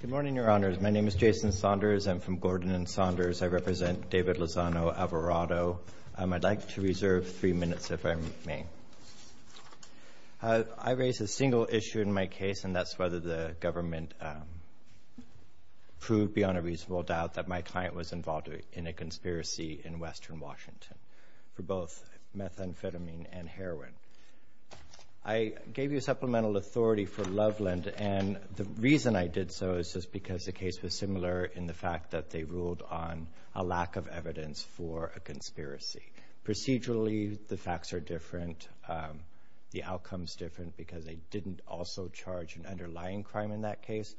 Good morning, Your Honors. My name is Jason Saunders. I'm from Gordon and Saunders. I represent David Lozano Alvarado. I'd like to reserve three minutes, if I may. I raise a single issue in my case, and that's whether the government proved beyond a reasonable doubt that my client was involved in a conspiracy in western Washington for both methamphetamine and heroin. I gave you supplemental authority for Loveland, and the reason I did so is just because the case was similar in the fact that they ruled on a lack of evidence for a conspiracy. Procedurally, the facts are different. The outcome's different because they didn't also charge an underlying crime in that case.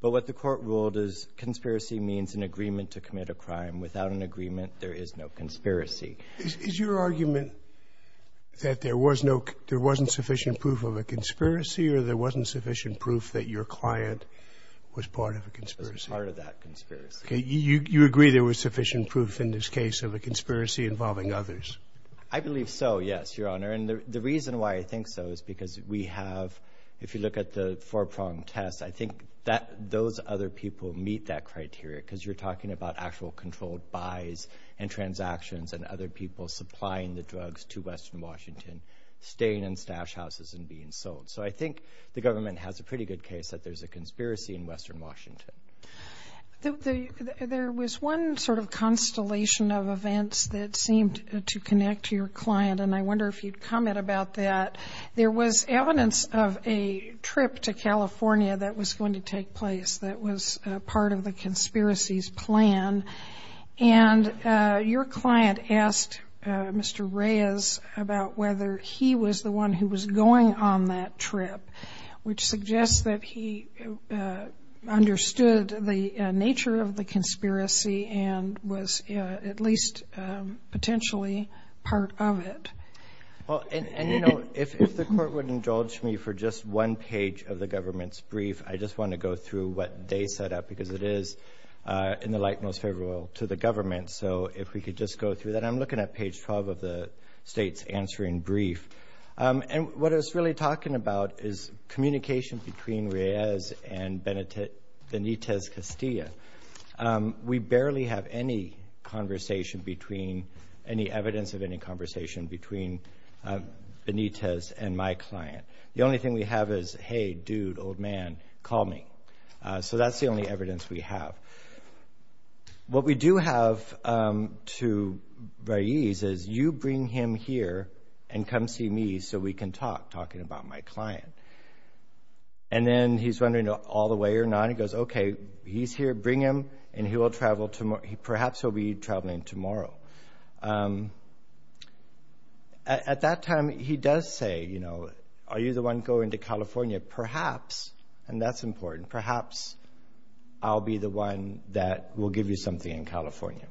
But what the court ruled is conspiracy means an agreement to commit a crime. Without an agreement, there is no conspiracy. Is your argument that there wasn't sufficient proof of a conspiracy or there wasn't sufficient proof that your client was part of a conspiracy? Was part of that conspiracy. You agree there was sufficient proof in this case of a conspiracy involving others? I believe so, yes, Your Honor. And the reason why I think so is because we have, if you look at the four-prong test, I think those other people meet that criteria because you're talking about actual controlled buys and transactions and other people supplying the drugs to western Washington, staying in stash houses and being sold. So I think the government has a pretty good case that there's a conspiracy in western Washington. There was one sort of constellation of events that seemed to connect to your client, and I wonder if you'd comment about that. There was evidence of a trip to California that was going to take place that was part of the conspiracy's plan, and your client asked Mr. Reyes about whether he was the one who was going on that trip, which suggests that he understood the nature of the conspiracy and was at least potentially part of it. And, you know, if the Court would indulge me for just one page of the government's brief, I just want to go through what they set up because it is in the light most favorable to the government. So if we could just go through that. I'm looking at page 12 of the State's answering brief, and what it's really talking about is communication between Reyes and Benitez Castilla. We barely have any evidence of any conversation between Benitez and my client. The only thing we have is, hey, dude, old man, call me. So that's the only evidence we have. What we do have to Reyes is you bring him here and come see me so we can talk, talking about my client. And then he's wondering all the way or not. He goes, okay, he's here, bring him, and perhaps he'll be traveling tomorrow. At that time, he does say, you know, are you the one going to California? Perhaps, and that's important, perhaps I'll be the one that will give you something in California.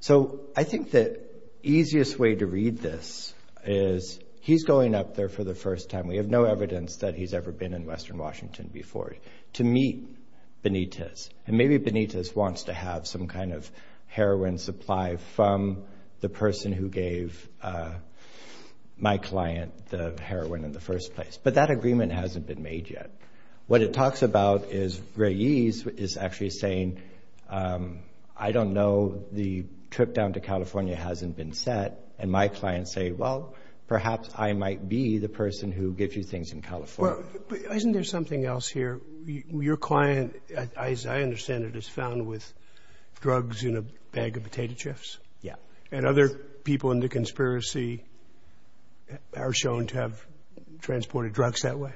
So I think the easiest way to read this is he's going up there for the first time. We have no evidence that he's ever been in western Washington before to meet Benitez. And maybe Benitez wants to have some kind of heroin supply from the person who gave my client the heroin in the first place. But that agreement hasn't been made yet. What it talks about is Reyes is actually saying, I don't know, the trip down to California hasn't been set, and my clients say, well, perhaps I might be the person who gives you things in California. But isn't there something else here? Your client, as I understand it, is found with drugs in a bag of potato chips? Yeah. And other people in the conspiracy are shown to have transported drugs that way?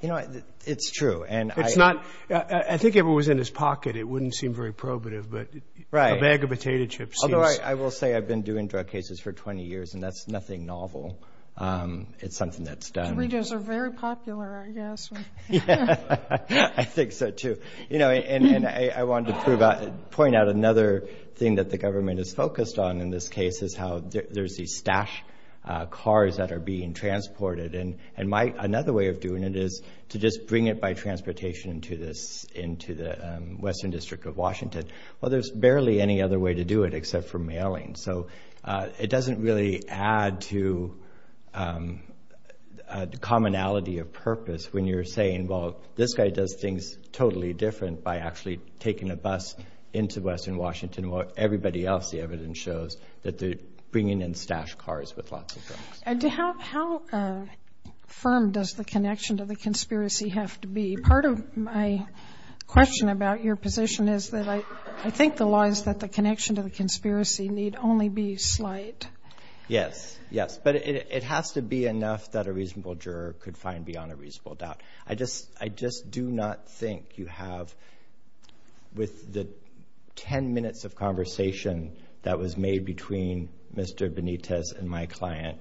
You know, it's true. I think if it was in his pocket, it wouldn't seem very probative. Right. But a bag of potato chips. Although I will say I've been doing drug cases for 20 years, and that's nothing novel. It's something that's done. Doritos are very popular, I guess. I think so, too. You know, and I wanted to point out another thing that the government is focused on in this case is how there's these stashed cars that are being transported. And another way of doing it is to just bring it by transportation into the western district of Washington. Well, there's barely any other way to do it except for mailing. So it doesn't really add to the commonality of purpose when you're saying, well, this guy does things totally different by actually taking a bus into western Washington while everybody else, the evidence shows, that they're bringing in stashed cars with lots of drugs. How firm does the connection to the conspiracy have to be? Part of my question about your position is that I think the law is that the connection to the conspiracy need only be slight. Yes, yes, but it has to be enough that a reasonable juror could find beyond a reasonable doubt. I just do not think you have, with the 10 minutes of conversation that was made between Mr. Benitez and my client,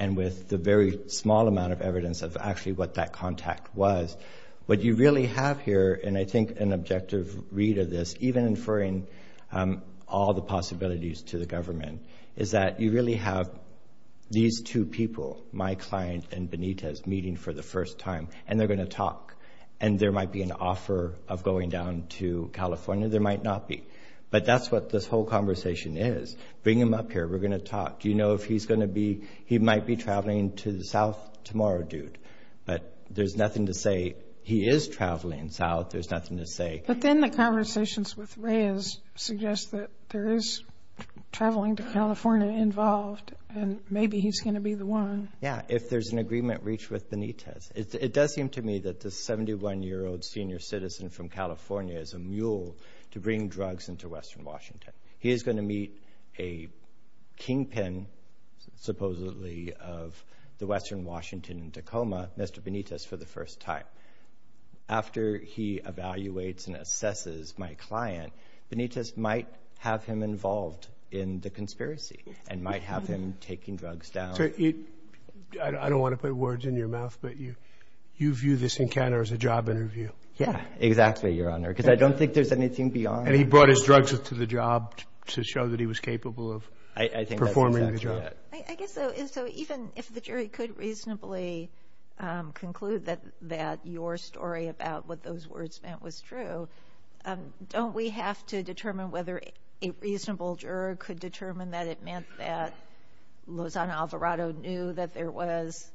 and with the very small amount of evidence of actually what that contact was, what you really have here, and I think an objective read of this, even inferring all the possibilities to the government, is that you really have these two people, my client and Benitez, meeting for the first time, and they're going to talk, and there might be an offer of going down to California. There might not be, but that's what this whole conversation is. Bring him up here. We're going to talk. Do you know if he's going to be, he might be traveling to the south tomorrow, dude, but there's nothing to say he is traveling south. There's nothing to say. But then the conversations with Reyes suggest that there is traveling to California involved, and maybe he's going to be the one. Yeah, if there's an agreement reached with Benitez. It does seem to me that this 71-year-old senior citizen from California is a mule to bring drugs into western Washington. He is going to meet a kingpin, supposedly, of the western Washington and Tacoma, Mr. Benitez, for the first time. After he evaluates and assesses my client, Benitez might have him involved in the conspiracy and might have him taking drugs down. I don't want to put words in your mouth, but you view this encounter as a job interview. Yeah, exactly, Your Honor, because I don't think there's anything beyond. And he brought his drugs to the job to show that he was capable of performing the job. So even if the jury could reasonably conclude that your story about what those words meant was true, don't we have to determine whether a reasonable juror could determine that it meant that Lozano Alvarado knew that there was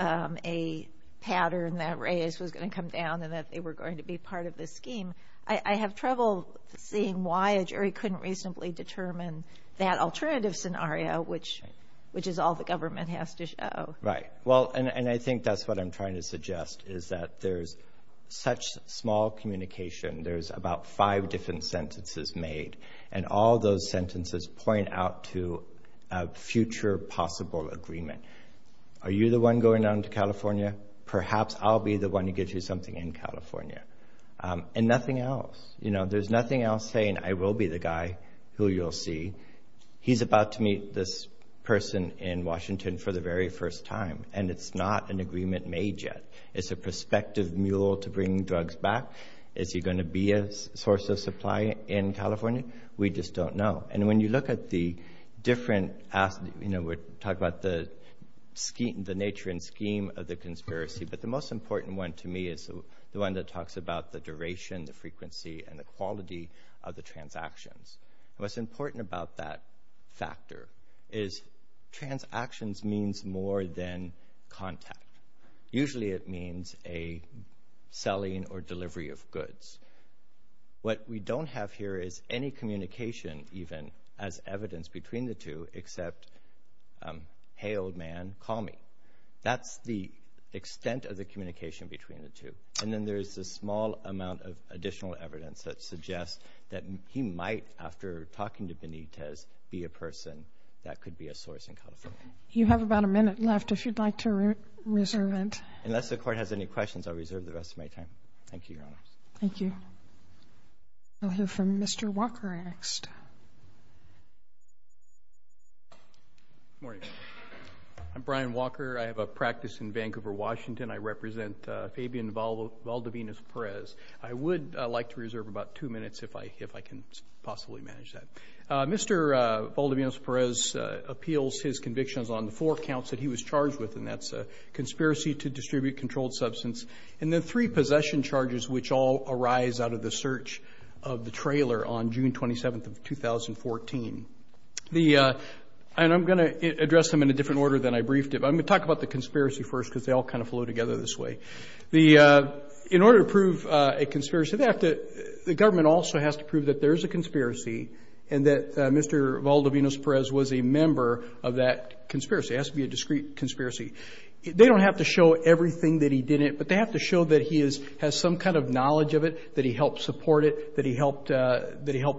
a pattern that Reyes was going to come down and that they were going to be part of this scheme? I have trouble seeing why a jury couldn't reasonably determine that alternative scenario, which is all the government has to show. Right. Well, and I think that's what I'm trying to suggest, is that there's such small communication. There's about five different sentences made, and all those sentences point out to a future possible agreement. Are you the one going down to California? Perhaps I'll be the one to get you something in California. And nothing else. There's nothing else saying, I will be the guy who you'll see. He's about to meet this person in Washington for the very first time, and it's not an agreement made yet. It's a prospective mule to bring drugs back. Is he going to be a source of supply in California? We just don't know. And when you look at the different aspects, we're talking about the nature and scheme of the conspiracy, but the most important one to me is the one that talks about the duration, the frequency, and the quality of the transactions. What's important about that factor is transactions means more than contact. Usually it means a selling or delivery of goods. What we don't have here is any communication even as evidence between the two except, hey, old man, call me. That's the extent of the communication between the two. And then there's a small amount of additional evidence that suggests that he might, after talking to Benitez, be a person that could be a source in California. You have about a minute left if you'd like to reserve it. Unless the Court has any questions, I'll reserve the rest of my time. Thank you, Your Honor. Thank you. We'll hear from Mr. Walker next. Good morning. I'm Brian Walker. I have a practice in Vancouver, Washington. I represent Fabian Valdevinas-Perez. I would like to reserve about two minutes if I can possibly manage that. Mr. Valdevinas-Perez appeals his convictions on the four counts that he was charged with, and that's conspiracy to distribute controlled substance, and the three possession charges which all arise out of the search of the trailer on June 27th of 2014. And I'm going to address them in a different order than I briefed it, but I'm going to talk about the conspiracy first because they all kind of flow together this way. In order to prove a conspiracy, the government also has to prove that there is a conspiracy and that Mr. Valdevinas-Perez was a member of that conspiracy. It has to be a discrete conspiracy. They don't have to show everything that he did it, but they have to show that he has some kind of knowledge of it, that he helped support it, that he helped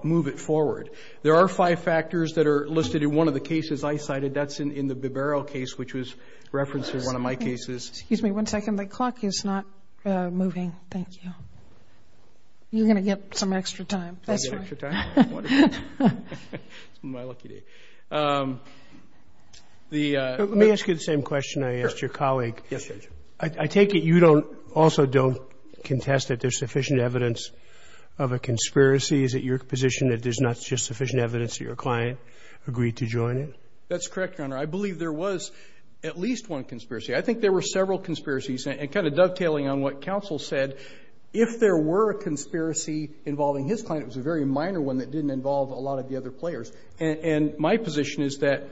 move it forward. There are five factors that are listed in one of the cases I cited. That's in the Bibero case, which was referenced in one of my cases. Excuse me one second. The clock is not moving. Thank you. You're going to get some extra time. I'll get extra time. Wonderful. It's my lucky day. Let me ask you the same question I asked your colleague. Yes, Judge. I take it you don't also don't contest that there's sufficient evidence of a conspiracy. Is it your position that there's not just sufficient evidence that your client agreed to join it? That's correct, Your Honor. I believe there was at least one conspiracy. I think there were several conspiracies, and kind of dovetailing on what counsel said, if there were a conspiracy involving his client, it was a very minor one that didn't involve a lot of the other players. And my position is that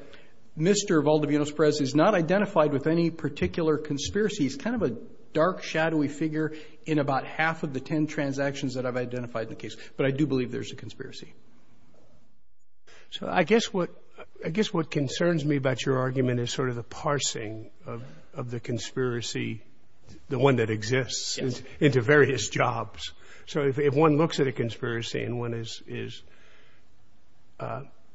Mr. Valdivianos Perez is not identified with any particular conspiracy. He's kind of a dark, shadowy figure in about half of the ten transactions that I've identified in the case. But I do believe there's a conspiracy. So I guess what concerns me about your argument is sort of the parsing of the conspiracy, the one that exists, into various jobs. So if one looks at a conspiracy and one is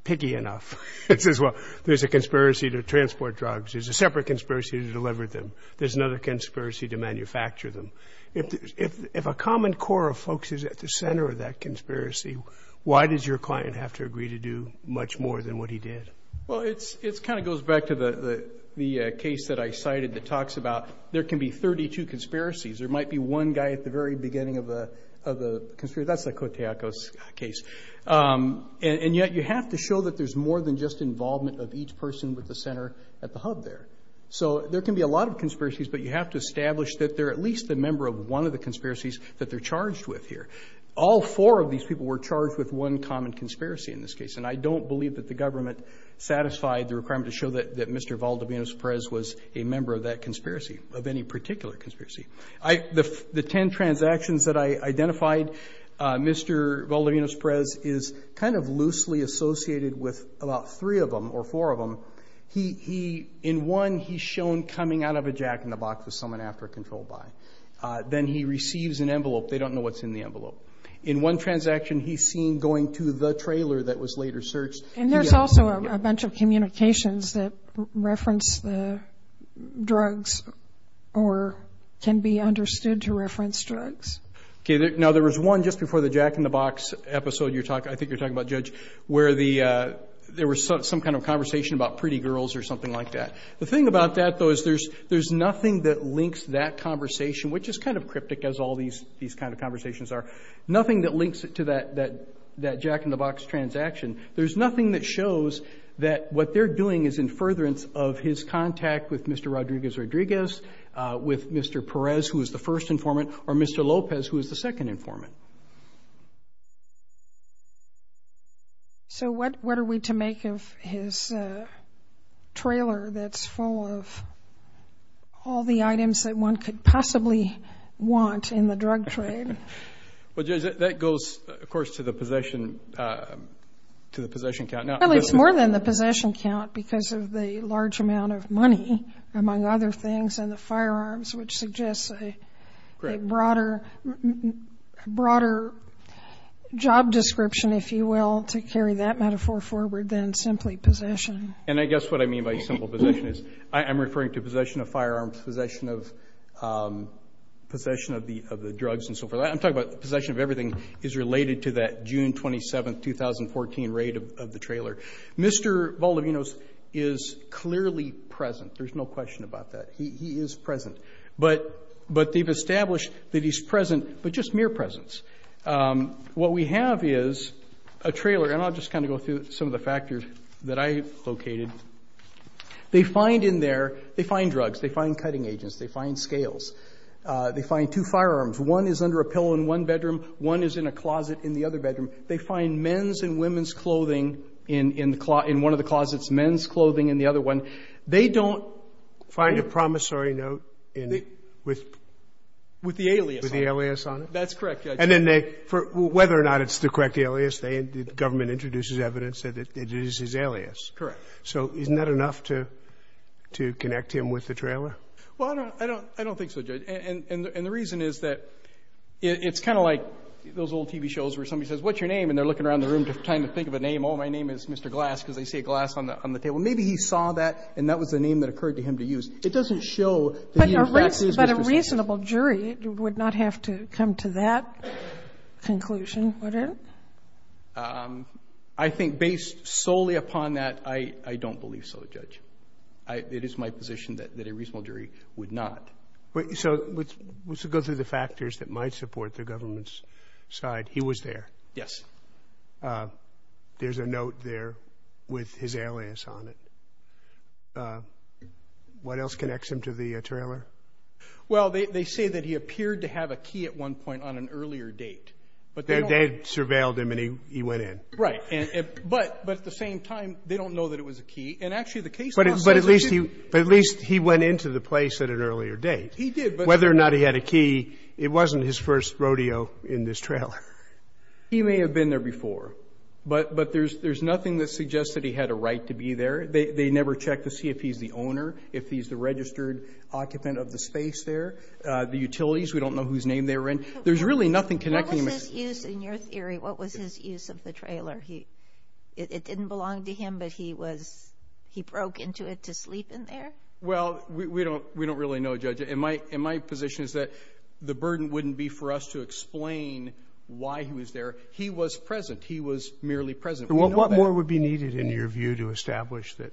picky enough and says, well, there's a conspiracy to transport drugs, there's a separate conspiracy to deliver them, there's another conspiracy to manufacture them. If a common core of folks is at the center of that conspiracy, why does your client have to agree to do much more than what he did? Well, it kind of goes back to the case that I cited that talks about there can be 32 conspiracies. There might be one guy at the very beginning of the conspiracy. That's the Koteakos case. And yet you have to show that there's more than just involvement of each person with the center at the hub there. So there can be a lot of conspiracies, but you have to establish that they're at least a member of one of the conspiracies that they're charged with here. All four of these people were charged with one common conspiracy in this case, and I don't believe that the government satisfied the requirement to show that Mr. Valdivianos Perez was a member of that conspiracy, of any particular conspiracy. The ten transactions that I identified, Mr. Valdivianos Perez is kind of loosely associated with about three of them or four of them. In one, he's shown coming out of a jack-in-the-box with someone after a controlled buy. Then he receives an envelope. They don't know what's in the envelope. In one transaction, he's seen going to the trailer that was later searched. And there's also a bunch of communications that reference the drugs or can be understood to reference drugs. Okay. Now, there was one just before the jack-in-the-box episode, I think you're talking about, Judge, where there was some kind of conversation about pretty girls or something like that. The thing about that, though, is there's nothing that links that conversation, which is kind of cryptic as all these kind of conversations are, nothing that links it to that jack-in-the-box transaction. There's nothing that shows that what they're doing is in furtherance of his contact with Mr. Rodriguez-Rodriguez, with Mr. Perez, who is the first informant, or Mr. Lopez, who is the second informant. So what are we to make of his trailer that's full of all the items that one could possibly want in the drug trade? Well, Judge, that goes, of course, to the possession count. Well, it's more than the possession count because of the large amount of money, among other things, and the firearms, which suggests a broader job description, if you will, to carry that metaphor forward than simply possession. And I guess what I mean by simple possession is I'm referring to possession of I'm talking about possession of everything is related to that June 27, 2014, raid of the trailer. Mr. Volodinos is clearly present. There's no question about that. He is present. But they've established that he's present, but just mere presence. What we have is a trailer, and I'll just kind of go through some of the factors that I've located. They find in there, they find drugs. They find cutting agents. They find scales. They find two firearms. One is under a pillow in one bedroom. One is in a closet in the other bedroom. They find men's and women's clothing in one of the closets, men's clothing in the other one. They don't find a promissory note with the alias on it. That's correct, Judge. And then they, whether or not it's the correct alias, the government introduces evidence that it is his alias. Correct. So isn't that enough to connect him with the trailer? Well, I don't think so, Judge. And the reason is that it's kind of like those old TV shows where somebody says, what's your name? And they're looking around the room trying to think of a name. Oh, my name is Mr. Glass because they see a glass on the table. Maybe he saw that and that was the name that occurred to him to use. It doesn't show that he in fact is Mr. Glass. But a reasonable jury would not have to come to that conclusion, would it? I think based solely upon that, I don't believe so, Judge. It is my position that a reasonable jury would not. So let's go through the factors that might support the government's side. He was there. Yes. There's a note there with his alias on it. What else connects him to the trailer? Well, they say that he appeared to have a key at one point on an earlier date. They had surveilled him and he went in. Right. But at the same time, they don't know that it was a key. But at least he went into the place at an earlier date. Whether or not he had a key, it wasn't his first rodeo in this trailer. He may have been there before, but there's nothing that suggests that he had a right to be there. They never checked to see if he's the owner, if he's the registered occupant of the space there, the utilities. We don't know whose name they were in. There's really nothing connecting him. What was his use in your theory? What was his use of the trailer? It didn't belong to him, but he broke into it to sleep in there? Well, we don't really know, Judge. And my position is that the burden wouldn't be for us to explain why he was there. He was present. He was merely present. What more would be needed in your view to establish that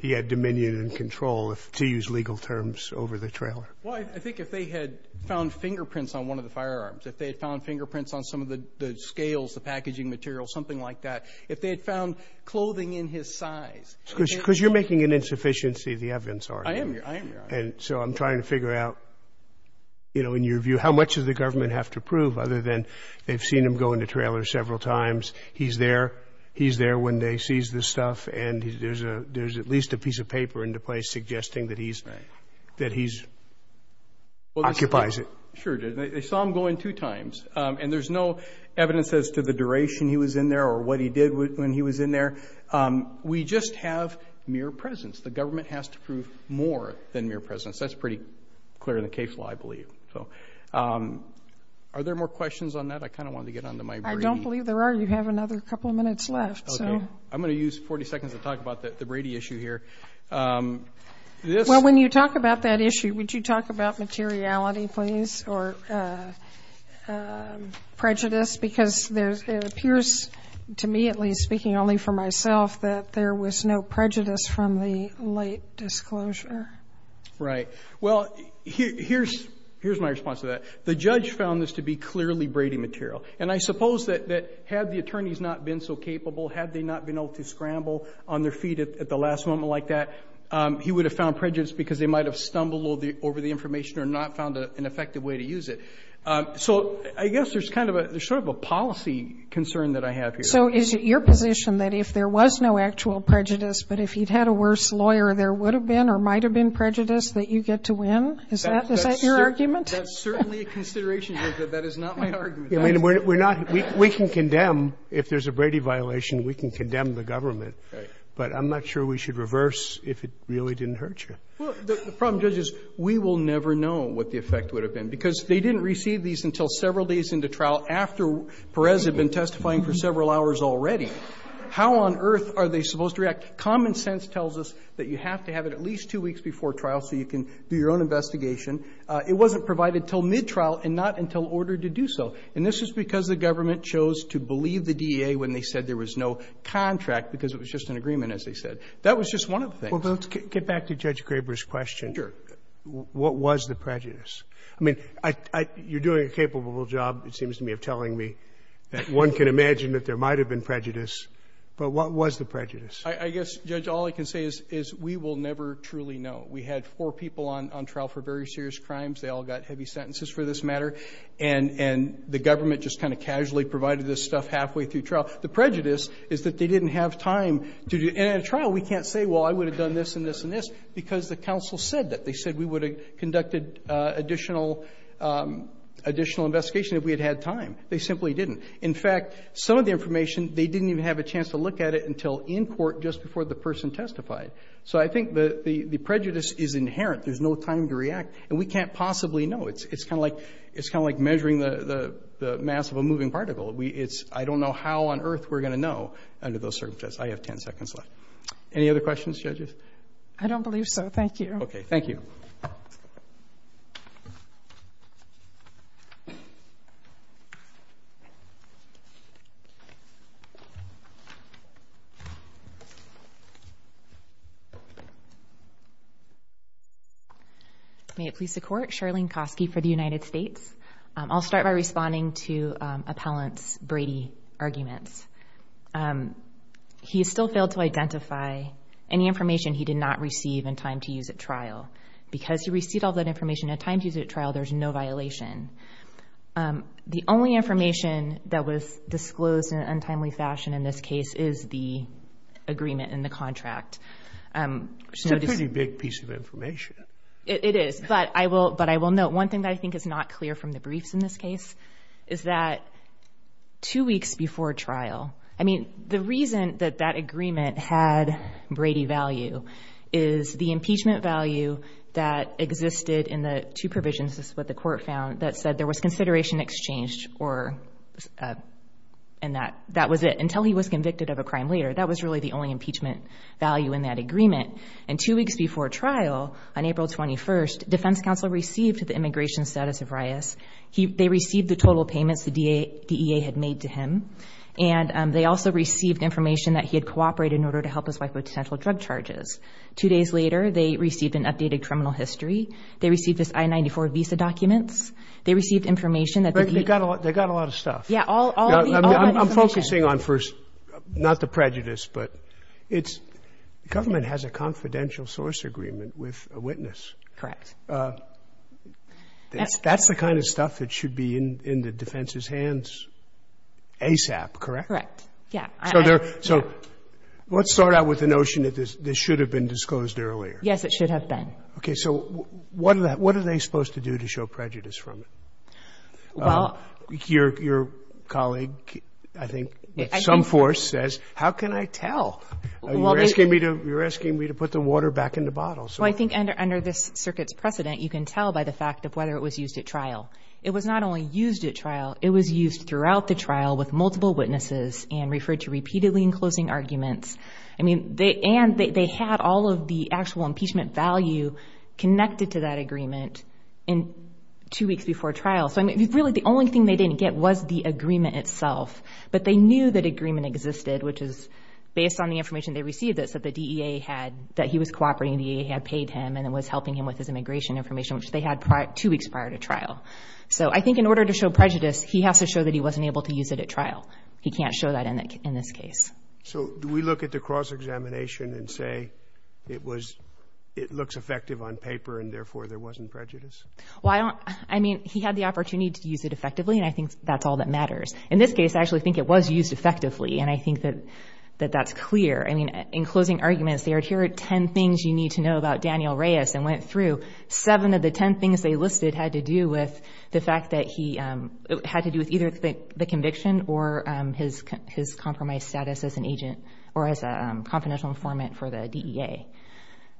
he had dominion and control, to use legal terms, over the trailer? Well, I think if they had found fingerprints on one of the firearms, if they had found fingerprints on some of the scales, the packaging material, something like that, if they had found clothing in his size. Because you're making an insufficiency of the evidence already. I am, Your Honor. And so I'm trying to figure out, you know, in your view, how much does the government have to prove, other than they've seen him go in the trailer several times, he's there, he's there when they seize the stuff, and there's at least a piece of paper into place suggesting that he occupies it. Sure, Judge. They saw him go in two times. And there's no evidence as to the duration he was in there or what he did when he was in there. We just have mere presence. The government has to prove more than mere presence. That's pretty clear in the case law, I believe. Are there more questions on that? I kind of wanted to get on to my Brady. I don't believe there are. You have another couple of minutes left. Okay. I'm going to use 40 seconds to talk about the Brady issue here. Well, when you talk about that issue, would you talk about materiality, please, or prejudice? Because it appears to me, at least speaking only for myself, that there was no prejudice from the late disclosure. Right. Well, here's my response to that. The judge found this to be clearly Brady material. Had they not been able to scramble on their feet at the last moment like that, he would have found prejudice because they might have stumbled over the information or not found an effective way to use it. So I guess there's kind of a ‑‑ there's sort of a policy concern that I have here. So is it your position that if there was no actual prejudice, but if he'd had a worse lawyer there would have been or might have been prejudice, that you get to win? Is that your argument? That's certainly a consideration. That is not my argument. I mean, we're not ‑‑ we can condemn, if there's a Brady violation, we can condemn the government. Right. But I'm not sure we should reverse if it really didn't hurt you. Well, the problem, Judge, is we will never know what the effect would have been, because they didn't receive these until several days into trial after Perez had been testifying for several hours already. How on earth are they supposed to react? Common sense tells us that you have to have it at least two weeks before trial so you can do your own investigation. It wasn't provided until mid-trial and not until ordered to do so. And this is because the government chose to believe the DEA when they said there was no contract because it was just an agreement, as they said. That was just one of the things. Well, let's get back to Judge Graber's question. Sure. What was the prejudice? I mean, you're doing a capable job, it seems to me, of telling me that one can imagine that there might have been prejudice, but what was the prejudice? I guess, Judge, all I can say is we will never truly know. We had four people on trial for very serious crimes. They all got heavy sentences for this matter. And the government just kind of casually provided this stuff halfway through trial. The prejudice is that they didn't have time to do it. And in a trial, we can't say, well, I would have done this and this and this, because the counsel said that. They said we would have conducted additional investigation if we had had time. They simply didn't. In fact, some of the information, they didn't even have a chance to look at it until in court just before the person testified. So I think the prejudice is inherent. There's no time to react. And we can't possibly know. It's kind of like measuring the mass of a moving particle. I don't know how on earth we're going to know under those circumstances. I have 10 seconds left. Any other questions, judges? I don't believe so. Thank you. Okay. Thank you. May it please the Court. Charlene Kosky for the United States. I'll start by responding to Appellant's Brady arguments. He still failed to identify any information he did not receive in time to use at trial. Because he received all that information in time to use at trial, there's no violation. The only information that was disclosed in an untimely fashion in this case is the agreement in the contract. It's a pretty big piece of information. It is. But I will note one thing that I think is not clear from the briefs in this case is that two weeks before trial, I mean, the reason that that agreement had Brady value is the impeachment value that existed in the two provisions, this is what the Court found, that said there was consideration exchanged and that was it until he was convicted of a crime later. That was really the only impeachment value in that agreement. And two weeks before trial, on April 21st, defense counsel received the immigration status of Reyes. They received the total payments the DEA had made to him. And they also received information that he had cooperated in order to help his wife with potential drug charges. Two days later, they received an updated criminal history. They received his I-94 visa documents. They received information that he – They got a lot of stuff. Yeah. All the information. I'm focusing on first – not the prejudice, but it's – the government has a confidential source agreement with a witness. Correct. That's the kind of stuff that should be in the defense's hands ASAP, correct? Correct. Yeah. So let's start out with the notion that this should have been disclosed earlier. Yes, it should have been. Okay. So what are they supposed to do to show prejudice from it? Well – Your colleague, I think, with some force, says, how can I tell? You're asking me to put the water back in the bottle. Well, I think under this circuit's precedent, you can tell by the fact of whether it was used at trial. It was not only used at trial, it was used throughout the trial with multiple witnesses and referred to repeatedly in closing arguments. I mean, they – and they had all of the actual impeachment value connected to that agreement in two weeks before trial. So I mean, really, the only thing they didn't get was the agreement itself. But they knew that agreement existed, which is based on the information they received, that said the DEA had – that he was cooperating, the DEA had paid him and was helping him with his immigration information, which they had two weeks prior to trial. So I think in order to show prejudice, he has to show that he wasn't able to use it at trial. He can't show that in this case. So do we look at the cross-examination and say it was – it looks effective on paper and therefore there wasn't prejudice? Well, I don't – I mean, he had the opportunity to use it effectively, and I think that's all that matters. In this case, I actually think it was used effectively, and I think that that's clear. I mean, in closing arguments, they heard here are 10 things you need to know about Daniel Reyes and went through. Seven of the 10 things they listed had to do with the fact that he – had to do with either the conviction or his compromised status as an agent or as a confidential informant for the DEA.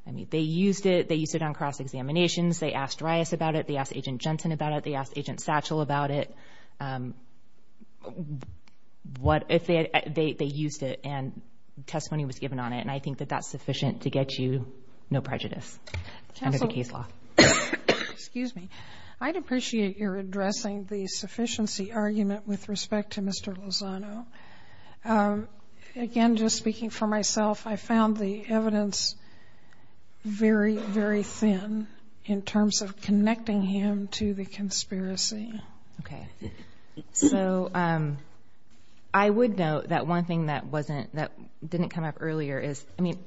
I mean, they used it. They used it on cross-examinations. They asked Reyes about it. They asked Agent Jensen about it. They asked Agent Satchell about it. What if they – they used it and testimony was given on it, and I think that that's sufficient to get you no prejudice under the case law. Excuse me. I'd appreciate your addressing the sufficiency argument with respect to Mr. Lozano. Again, just speaking for myself, I found the evidence very, very thin in terms of connecting him to the conspiracy. Okay. So, I would note that one thing that wasn't – that didn't come up earlier is, I mean,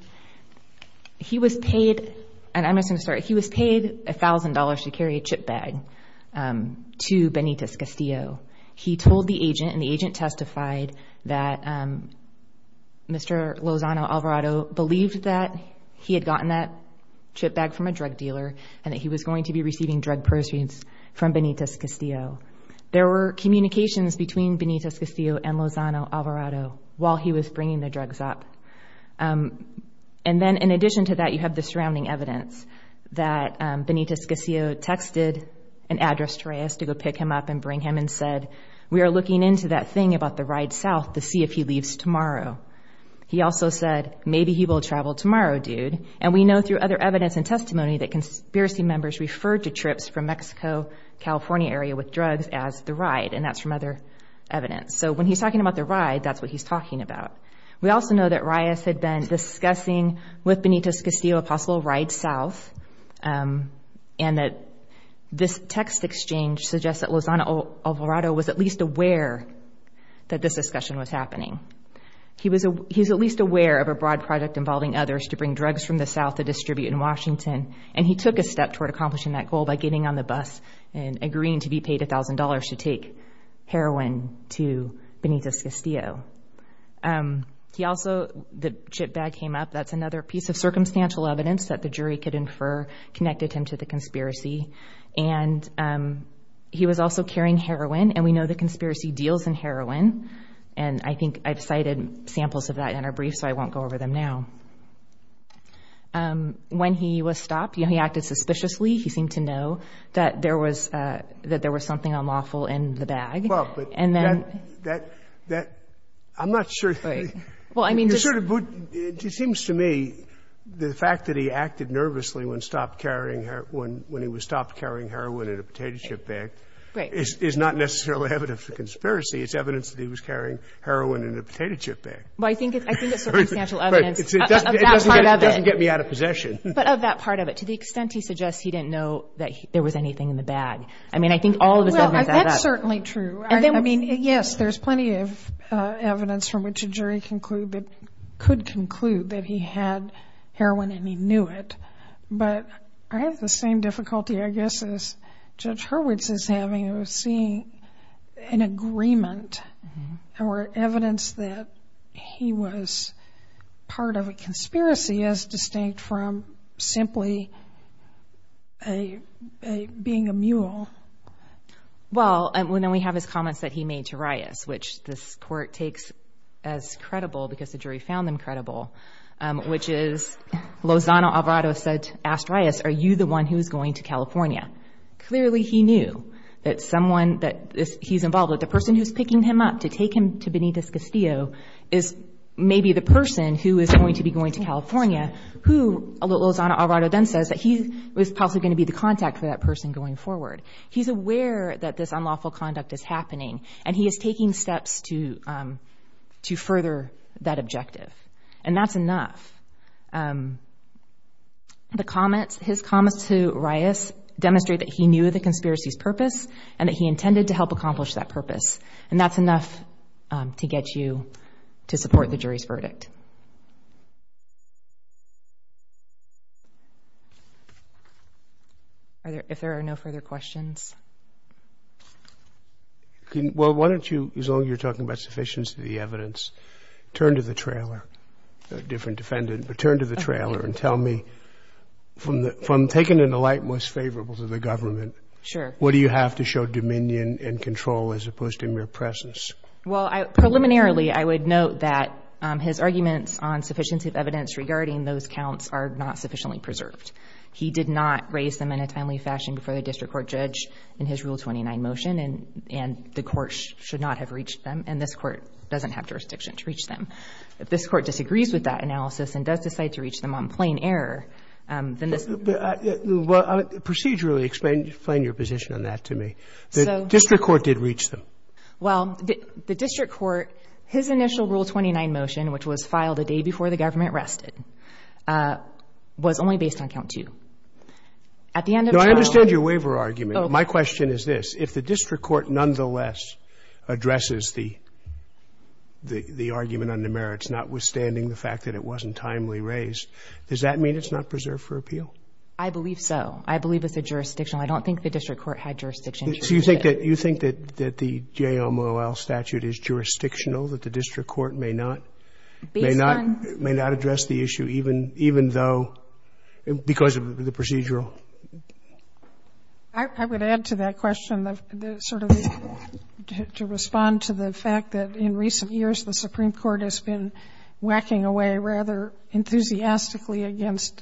he was paid – and I'm just going to start. He was paid $1,000 to carry a chip bag to Benitez Castillo. He told the agent, and the agent testified that Mr. Lozano Alvarado believed that he had gotten that chip bag from a drug dealer and that he was going to be receiving drug pursuits from Benitez Castillo. There were communications between Benitez Castillo and Lozano Alvarado while he was bringing the drugs up. And then, in addition to that, you have the surrounding evidence that Benitez Castillo texted and addressed to Reyes to go pick him up and bring him and said, we are looking into that thing about the ride south to see if he leaves tomorrow. He also said, maybe he will travel tomorrow, dude. And we know through other evidence and testimony that conspiracy members referred to trips from Mexico-California area with drugs as the ride, and that's from other evidence. So, when he's talking about the ride, that's what he's talking about. We also know that Reyes had been discussing with Benitez Castillo a possible ride south and that this text exchange suggests that Lozano Alvarado was at least aware that this discussion was happening. He was at least aware of a broad project involving others to bring drugs from the south to distribute in Washington, and he took a step toward accomplishing that goal by getting on the bus and agreeing to be paid $1,000 to take heroin to Benitez Castillo. He also, the chip bag came up. That's another piece of circumstantial evidence that the jury could infer connected him to the conspiracy. And he was also carrying heroin, and we know the conspiracy deals in heroin. And I think I've cited samples of that in our brief, so I won't go over them now. When he was stopped, he acted suspiciously. He seemed to know that there was something unlawful in the bag. I'm not sure. It seems to me the fact that he acted nervously when he was stopped carrying heroin in a potato chip bag is not necessarily evidence of conspiracy. It's evidence that he was carrying heroin in a potato chip bag. I think it's circumstantial evidence of that part of it. It doesn't get me out of possession. But of that part of it. To the extent he suggests he didn't know that there was anything in the bag. I mean, I think all of his evidence adds up. That's certainly true. I mean, yes, there's plenty of evidence from which a jury could conclude that he had heroin and he knew it. But I have the same difficulty, I guess, as Judge Hurwitz is having of seeing an agreement or evidence that he was part of a conspiracy as distinct from simply being a mule. Well, and then we have his comments that he made to Reyes, which this court takes as credible because the jury found them credible, which is Lozano Alvarado asked Reyes, are you the one who is going to California? Clearly he knew that someone that he's involved with, the person who's picking him up to take him to Benitez Castillo, is maybe the person who is going to be going to California, who Lozano Alvarado then says that he was possibly going to be the contact for that person going forward. He's aware that this unlawful conduct is happening, and he is taking steps to further that objective. And that's enough. The comments, his comments to Reyes demonstrate that he knew the conspiracy's purpose and that he intended to help accomplish that purpose. And that's enough to get you to support the jury's verdict. Are there, if there are no further questions? Well, why don't you, as long as you're talking about sufficiency of the evidence, turn to the trailer, different defendant, but turn to the trailer and tell me, from taking an alight most favorable to the government, what do you have to show dominion and control as opposed to mere presence? Well, preliminarily, I would note that his arguments on sufficiency of evidence regarding those counts are not sufficiently preserved. He did not raise them in a timely fashion before the district court judge in his Rule 29 motion, and the court should not have reached them. And this court doesn't have jurisdiction to reach them. If this court disagrees with that analysis and does decide to reach them on plain error, then this court doesn't have jurisdiction to reach them. Well, procedurally explain your position on that to me. The district court did reach them. Well, the district court, his initial Rule 29 motion, which was filed the day before the government rested, was only based on count two. At the end of the trial, it was only based on count two. No, I understand your waiver argument. My question is this. If the district court nonetheless addresses the argument on the merits, notwithstanding the fact that it wasn't timely raised, does that mean it's not preserved for appeal? I believe so. I believe it's a jurisdictional. I don't think the district court had jurisdiction to reach it. So you think that the JOMOL statute is jurisdictional, that the district court may not? Based on? May not address the issue, even though, because of the procedural? I would add to that question sort of to respond to the fact that in recent years, the Supreme Court has been whacking away rather enthusiastically against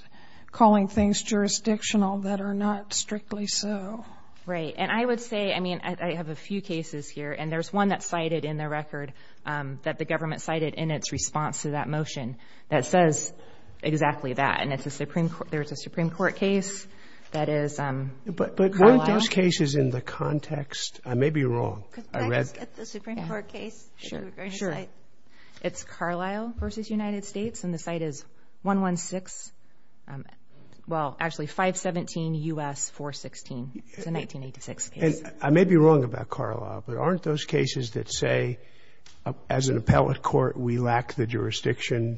calling things jurisdictional that are not strictly so. Right. And I would say, I mean, I have a few cases here, and there's one that's cited in the record that the government cited in its response to that motion that says exactly that. And there's a Supreme Court case that is Carlisle. But weren't those cases in the context? I may be wrong. Could I just get the Supreme Court case? Sure. It's Carlisle v. United States, and the site is 116, well, actually 517 U.S. 416. It's a 1986 case. I may be wrong about Carlisle, but aren't those cases that say as an appellate court we lack the jurisdiction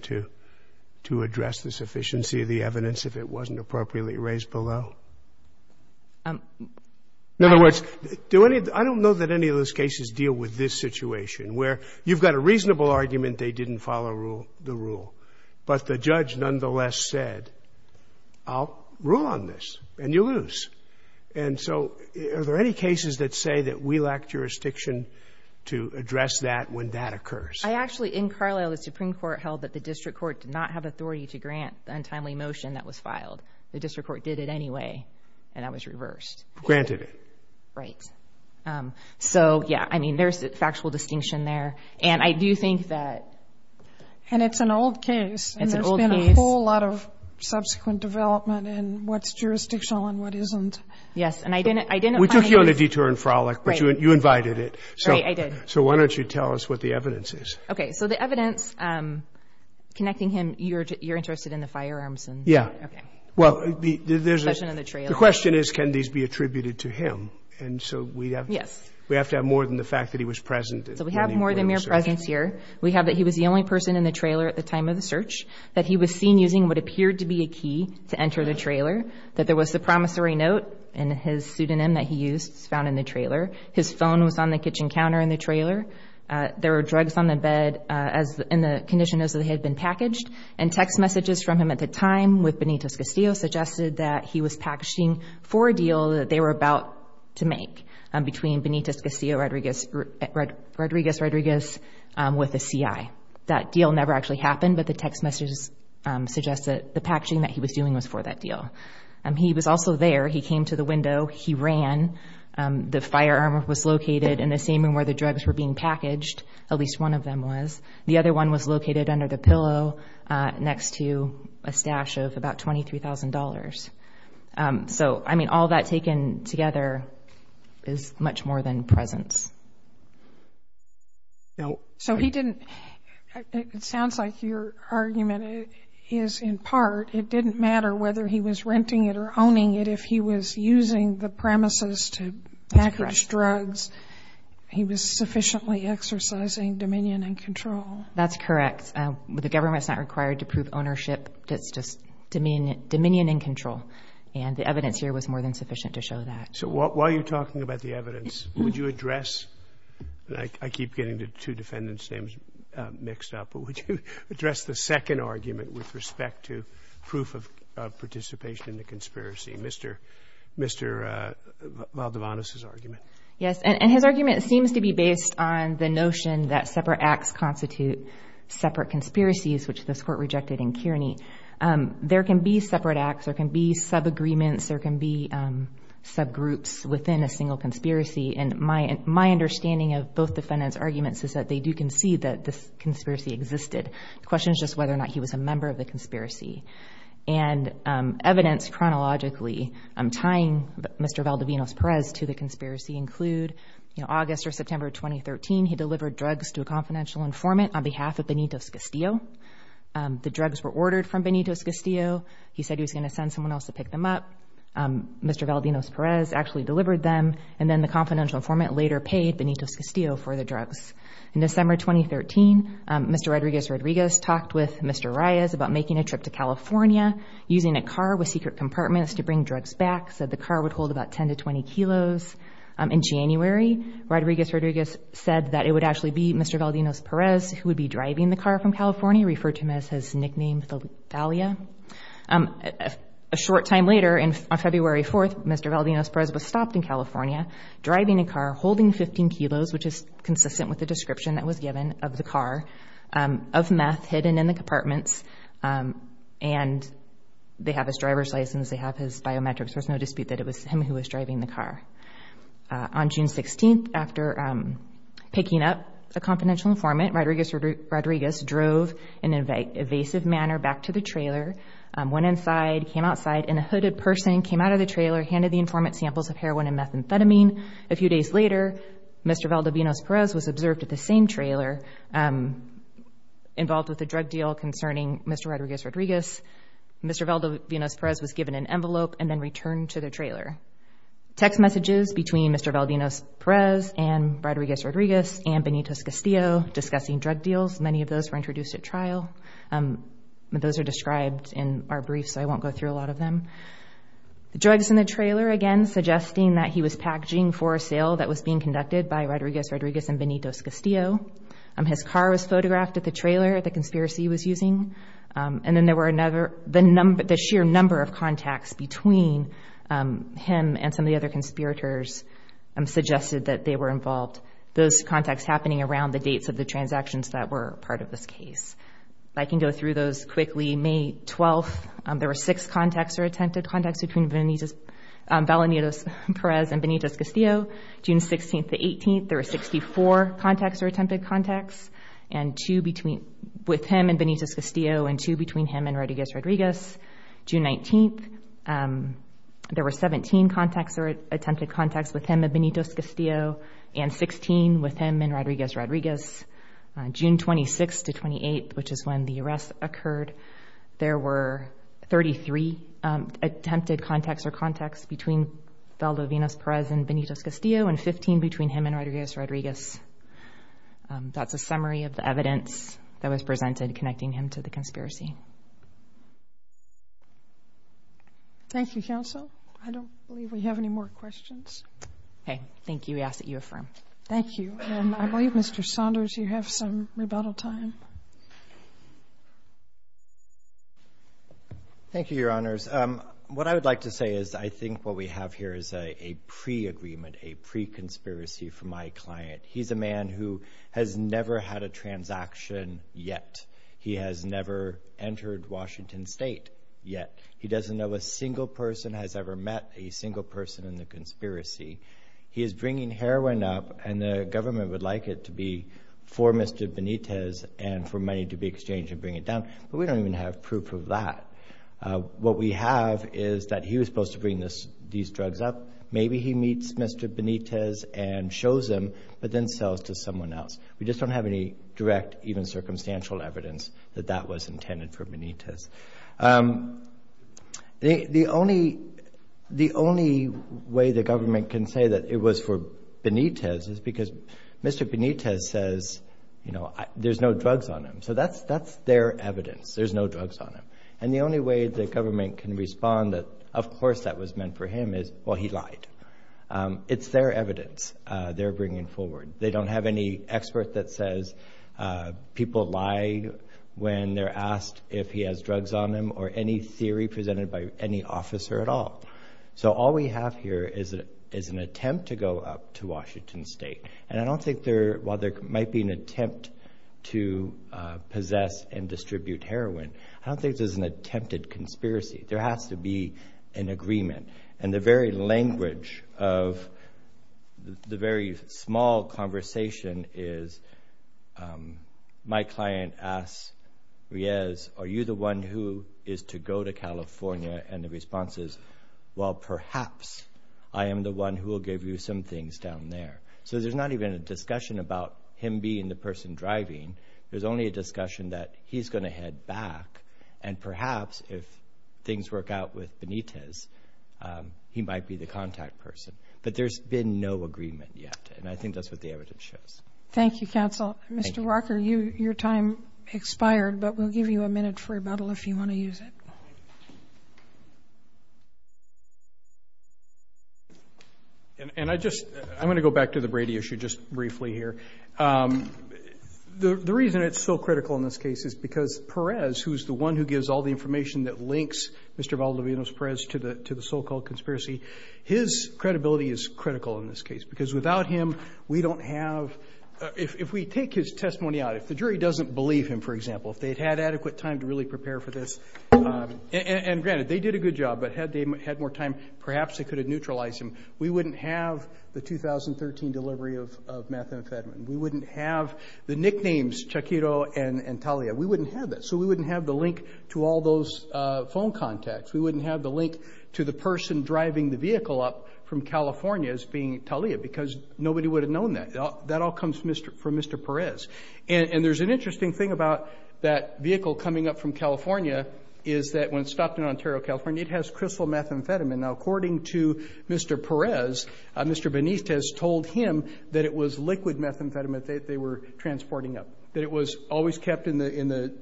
to address the sufficiency of the evidence if it wasn't appropriately raised below? In other words, do any of the – I don't know that any of those cases deal with this situation, where you've got a reasonable argument, they didn't follow the rule, but the judge nonetheless said, I'll rule on this, and you lose. And so are there any cases that say that we lack jurisdiction to address that when that occurs? I actually, in Carlisle, the Supreme Court held that the district court did not have authority to grant the untimely motion that was filed. The district court did it anyway, and that was reversed. Granted it. Right. So, yeah, I mean, there's a factual distinction there. And I do think that – And it's an old case. It's an old case. And there's been a whole lot of subsequent development in what's jurisdictional and what isn't. Yes, and I didn't – I didn't – We took you on a detour and frolic, but you invited it. Right, I did. So why don't you tell us what the evidence is? Okay. So the evidence connecting him, you're interested in the firearms? Yeah. Okay. Well, there's a – The question on the trailer. The question is, can these be attributed to him? And so we have – Yes. We have to have more than the fact that he was present. So we have more than mere presence here. We have that he was the only person in the trailer at the time of the search, that he was seen using what appeared to be a key to enter the trailer, that there was the promissory note and his pseudonym that he used, found in the trailer. His phone was on the kitchen counter in the trailer. There were drugs on the bed in the condition as they had been packaged. And text messages from him at the time with Benitez-Castillo suggested that he was packaging for a deal that they were about to make between Benitez-Castillo, Rodriguez, Rodriguez, Rodriguez, with a CI. That deal never actually happened, but the text messages suggested the packaging that he was doing was for that deal. He was also there. He came to the window. He ran. The firearm was located in the same room where the drugs were being packaged, at least one of them was. The other one was located under the pillow next to a stash of about $23,000. So, I mean, all that taken together is much more than presence. So he didn't – it sounds like your argument is in part, it didn't matter whether he was renting it or owning it. If he was using the premises to package drugs, he was sufficiently exercising dominion and control. That's correct. The government's not required to prove ownership. It's just dominion and control. And the evidence here was more than sufficient to show that. So while you're talking about the evidence, would you address, and I keep getting the two defendants' names mixed up, but would you address the second argument with respect to proof of participation in the conspiracy, Mr. Valdivantes' argument? Yes, and his argument seems to be based on the notion that separate acts constitute separate conspiracies, which this Court rejected in Kearney. There can be separate acts. There can be sub-agreements. There can be sub-groups within a single conspiracy. And my understanding of both defendants' arguments is that they do concede that this conspiracy existed. The question is just whether or not he was a member of the conspiracy. And evidence chronologically tying Mr. Valdivantes-Perez to the conspiracy include, in August or September of 2013, he delivered drugs to a confidential informant on behalf of Benito's Castillo. The drugs were ordered from Benito's Castillo. He said he was going to send someone else to pick them up. Mr. Valdivantes-Perez actually delivered them, and then the confidential informant later paid Benito's Castillo for the drugs. In December 2013, Mr. Rodriguez-Rodriguez talked with Mr. Reyes about making a trip to California, using a car with secret compartments to bring drugs back, said the car would hold about 10 to 20 kilos. In January, Rodriguez-Rodriguez said that it would actually be Mr. Valdivantes-Perez who would be driving the car from California, referred to him as his nickname, Thalia. A short time later, on February 4th, Mr. Valdivantes-Perez was stopped in California, driving a car, holding 15 kilos, which is consistent with the description that was given of the car, of meth hidden in the compartments. And they have his driver's license, they have his biometrics, there's no dispute that it was him who was driving the car. On June 16th, after picking up a confidential informant, Rodriguez-Rodriguez drove in an evasive manner back to the trailer, went inside, came outside in a hooded person, came out of the trailer, handed the informant samples of heroin and methamphetamine. A few days later, Mr. Valdivantes-Perez was observed at the same trailer, involved with a drug deal concerning Mr. Rodriguez-Rodriguez. Mr. Valdivantes-Perez was given an envelope and then returned to the trailer. Text messages between Mr. Valdivantes-Perez and Rodriguez-Rodriguez and Benito Castillo discussing drug deals, many of those were introduced at trial. Those are described in our brief, so I won't go through a lot of them. The drugs in the trailer, again, suggesting that he was packaging for a sale that was being conducted by Rodriguez-Rodriguez and Benito Castillo. His car was photographed at the trailer the conspiracy was using. And then there were another, the sheer number of contacts between him and some of the other conspirators suggested that they were involved, those contacts happening around the dates of the transactions that were part of this case. I can go through those quickly. May 12th, there were six contacts or attempted contacts between Valdivantes-Perez and Benito Castillo. June 16th to 18th, there were 64 contacts or attempted contacts with him and Benito Castillo and two between him and Rodriguez-Rodriguez. June 19th, there were 17 contacts or attempted contacts with him and Benito Castillo and 16 with him and Rodriguez-Rodriguez. June 26th to 28th, which is when the arrest occurred, there were 33 attempted contacts or contacts between Valdivantes-Perez and Benito Castillo and 15 between him and Rodriguez-Rodriguez. That's a summary of the evidence that was presented connecting him to the conspiracy. Thank you, counsel. I don't believe we have any more questions. Okay, thank you. We ask that you affirm. Thank you. I believe, Mr. Saunders, you have some rebuttal time. Thank you, Your Honors. What I would like to say is I think what we have here is a pre-agreement, a pre-conspiracy from my client. He's a man who has never had a transaction yet. He has never entered Washington State yet. He doesn't know a single person has ever met a single person in the conspiracy. He is bringing heroin up, and the government would like it to be for Mr. Benitez and for money to be exchanged and bring it down, but we don't even have proof of that. What we have is that he was supposed to bring these drugs up. Maybe he meets Mr. Benitez and shows them, but then sells to someone else. We just don't have any direct, even circumstantial evidence that that was intended for Benitez. The only way the government can say that it was for Benitez is because Mr. Benitez says there's no drugs on him, so that's their evidence, there's no drugs on him. And the only way the government can respond that, of course, that was meant for him is, well, he lied. It's their evidence they're bringing forward. They don't have any expert that says people lie when they're asked if he has drugs on him or any theory presented by any officer at all. So all we have here is an attempt to go up to Washington State, and I don't think there might be an attempt to possess and distribute heroin. I don't think there's an attempted conspiracy. There has to be an agreement, and the very language of the very small conversation is my client asks Riez, are you the one who is to go to California? And the response is, well, perhaps I am the one who will give you some things down there. So there's not even a discussion about him being the person driving. There's only a discussion that he's going to head back, and perhaps if things work out with Benitez, he might be the contact person. But there's been no agreement yet, and I think that's what the evidence shows. Thank you, counsel. Mr. Walker, your time expired, but we'll give you a minute for rebuttal if you want to use it. I'm going to go back to the Brady issue just briefly here. The reason it's so critical in this case is because Perez, who's the one who gives all the information that links Mr. Valdovinos Perez to the so-called conspiracy, his credibility is critical in this case because without him, we don't have, if we take his testimony out, if the jury doesn't believe him, for example, if they'd had adequate time to really prepare for this, and granted, they did a good job, but had they had more time, perhaps they could have neutralized him. We wouldn't have the 2013 delivery of methamphetamine. We wouldn't have the nicknames Chiquito and Talia. We wouldn't have that. So we wouldn't have the link to all those phone contacts. We wouldn't have the link to the person driving the vehicle up from California as being Talia because nobody would have known that. That all comes from Mr. Perez. And there's an interesting thing about that vehicle coming up from California is that when stopped in Ontario, California, it has crystal methamphetamine. Now, according to Mr. Perez, Mr. Benitez told him that it was liquid methamphetamine that they were transporting up, that it was always kept in the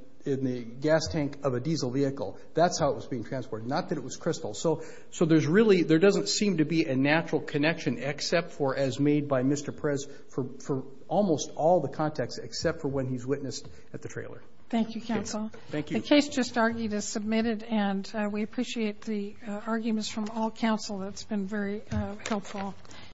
gas tank of a diesel vehicle. That's how it was being transported, not that it was crystal. So there doesn't seem to be a natural connection, except for as made by Mr. Perez for almost all the contacts, except for when he's witnessed at the trailer. Thank you, counsel. Thank you. The case just argued is submitted, and we appreciate the arguments from all counsel. That's been very helpful.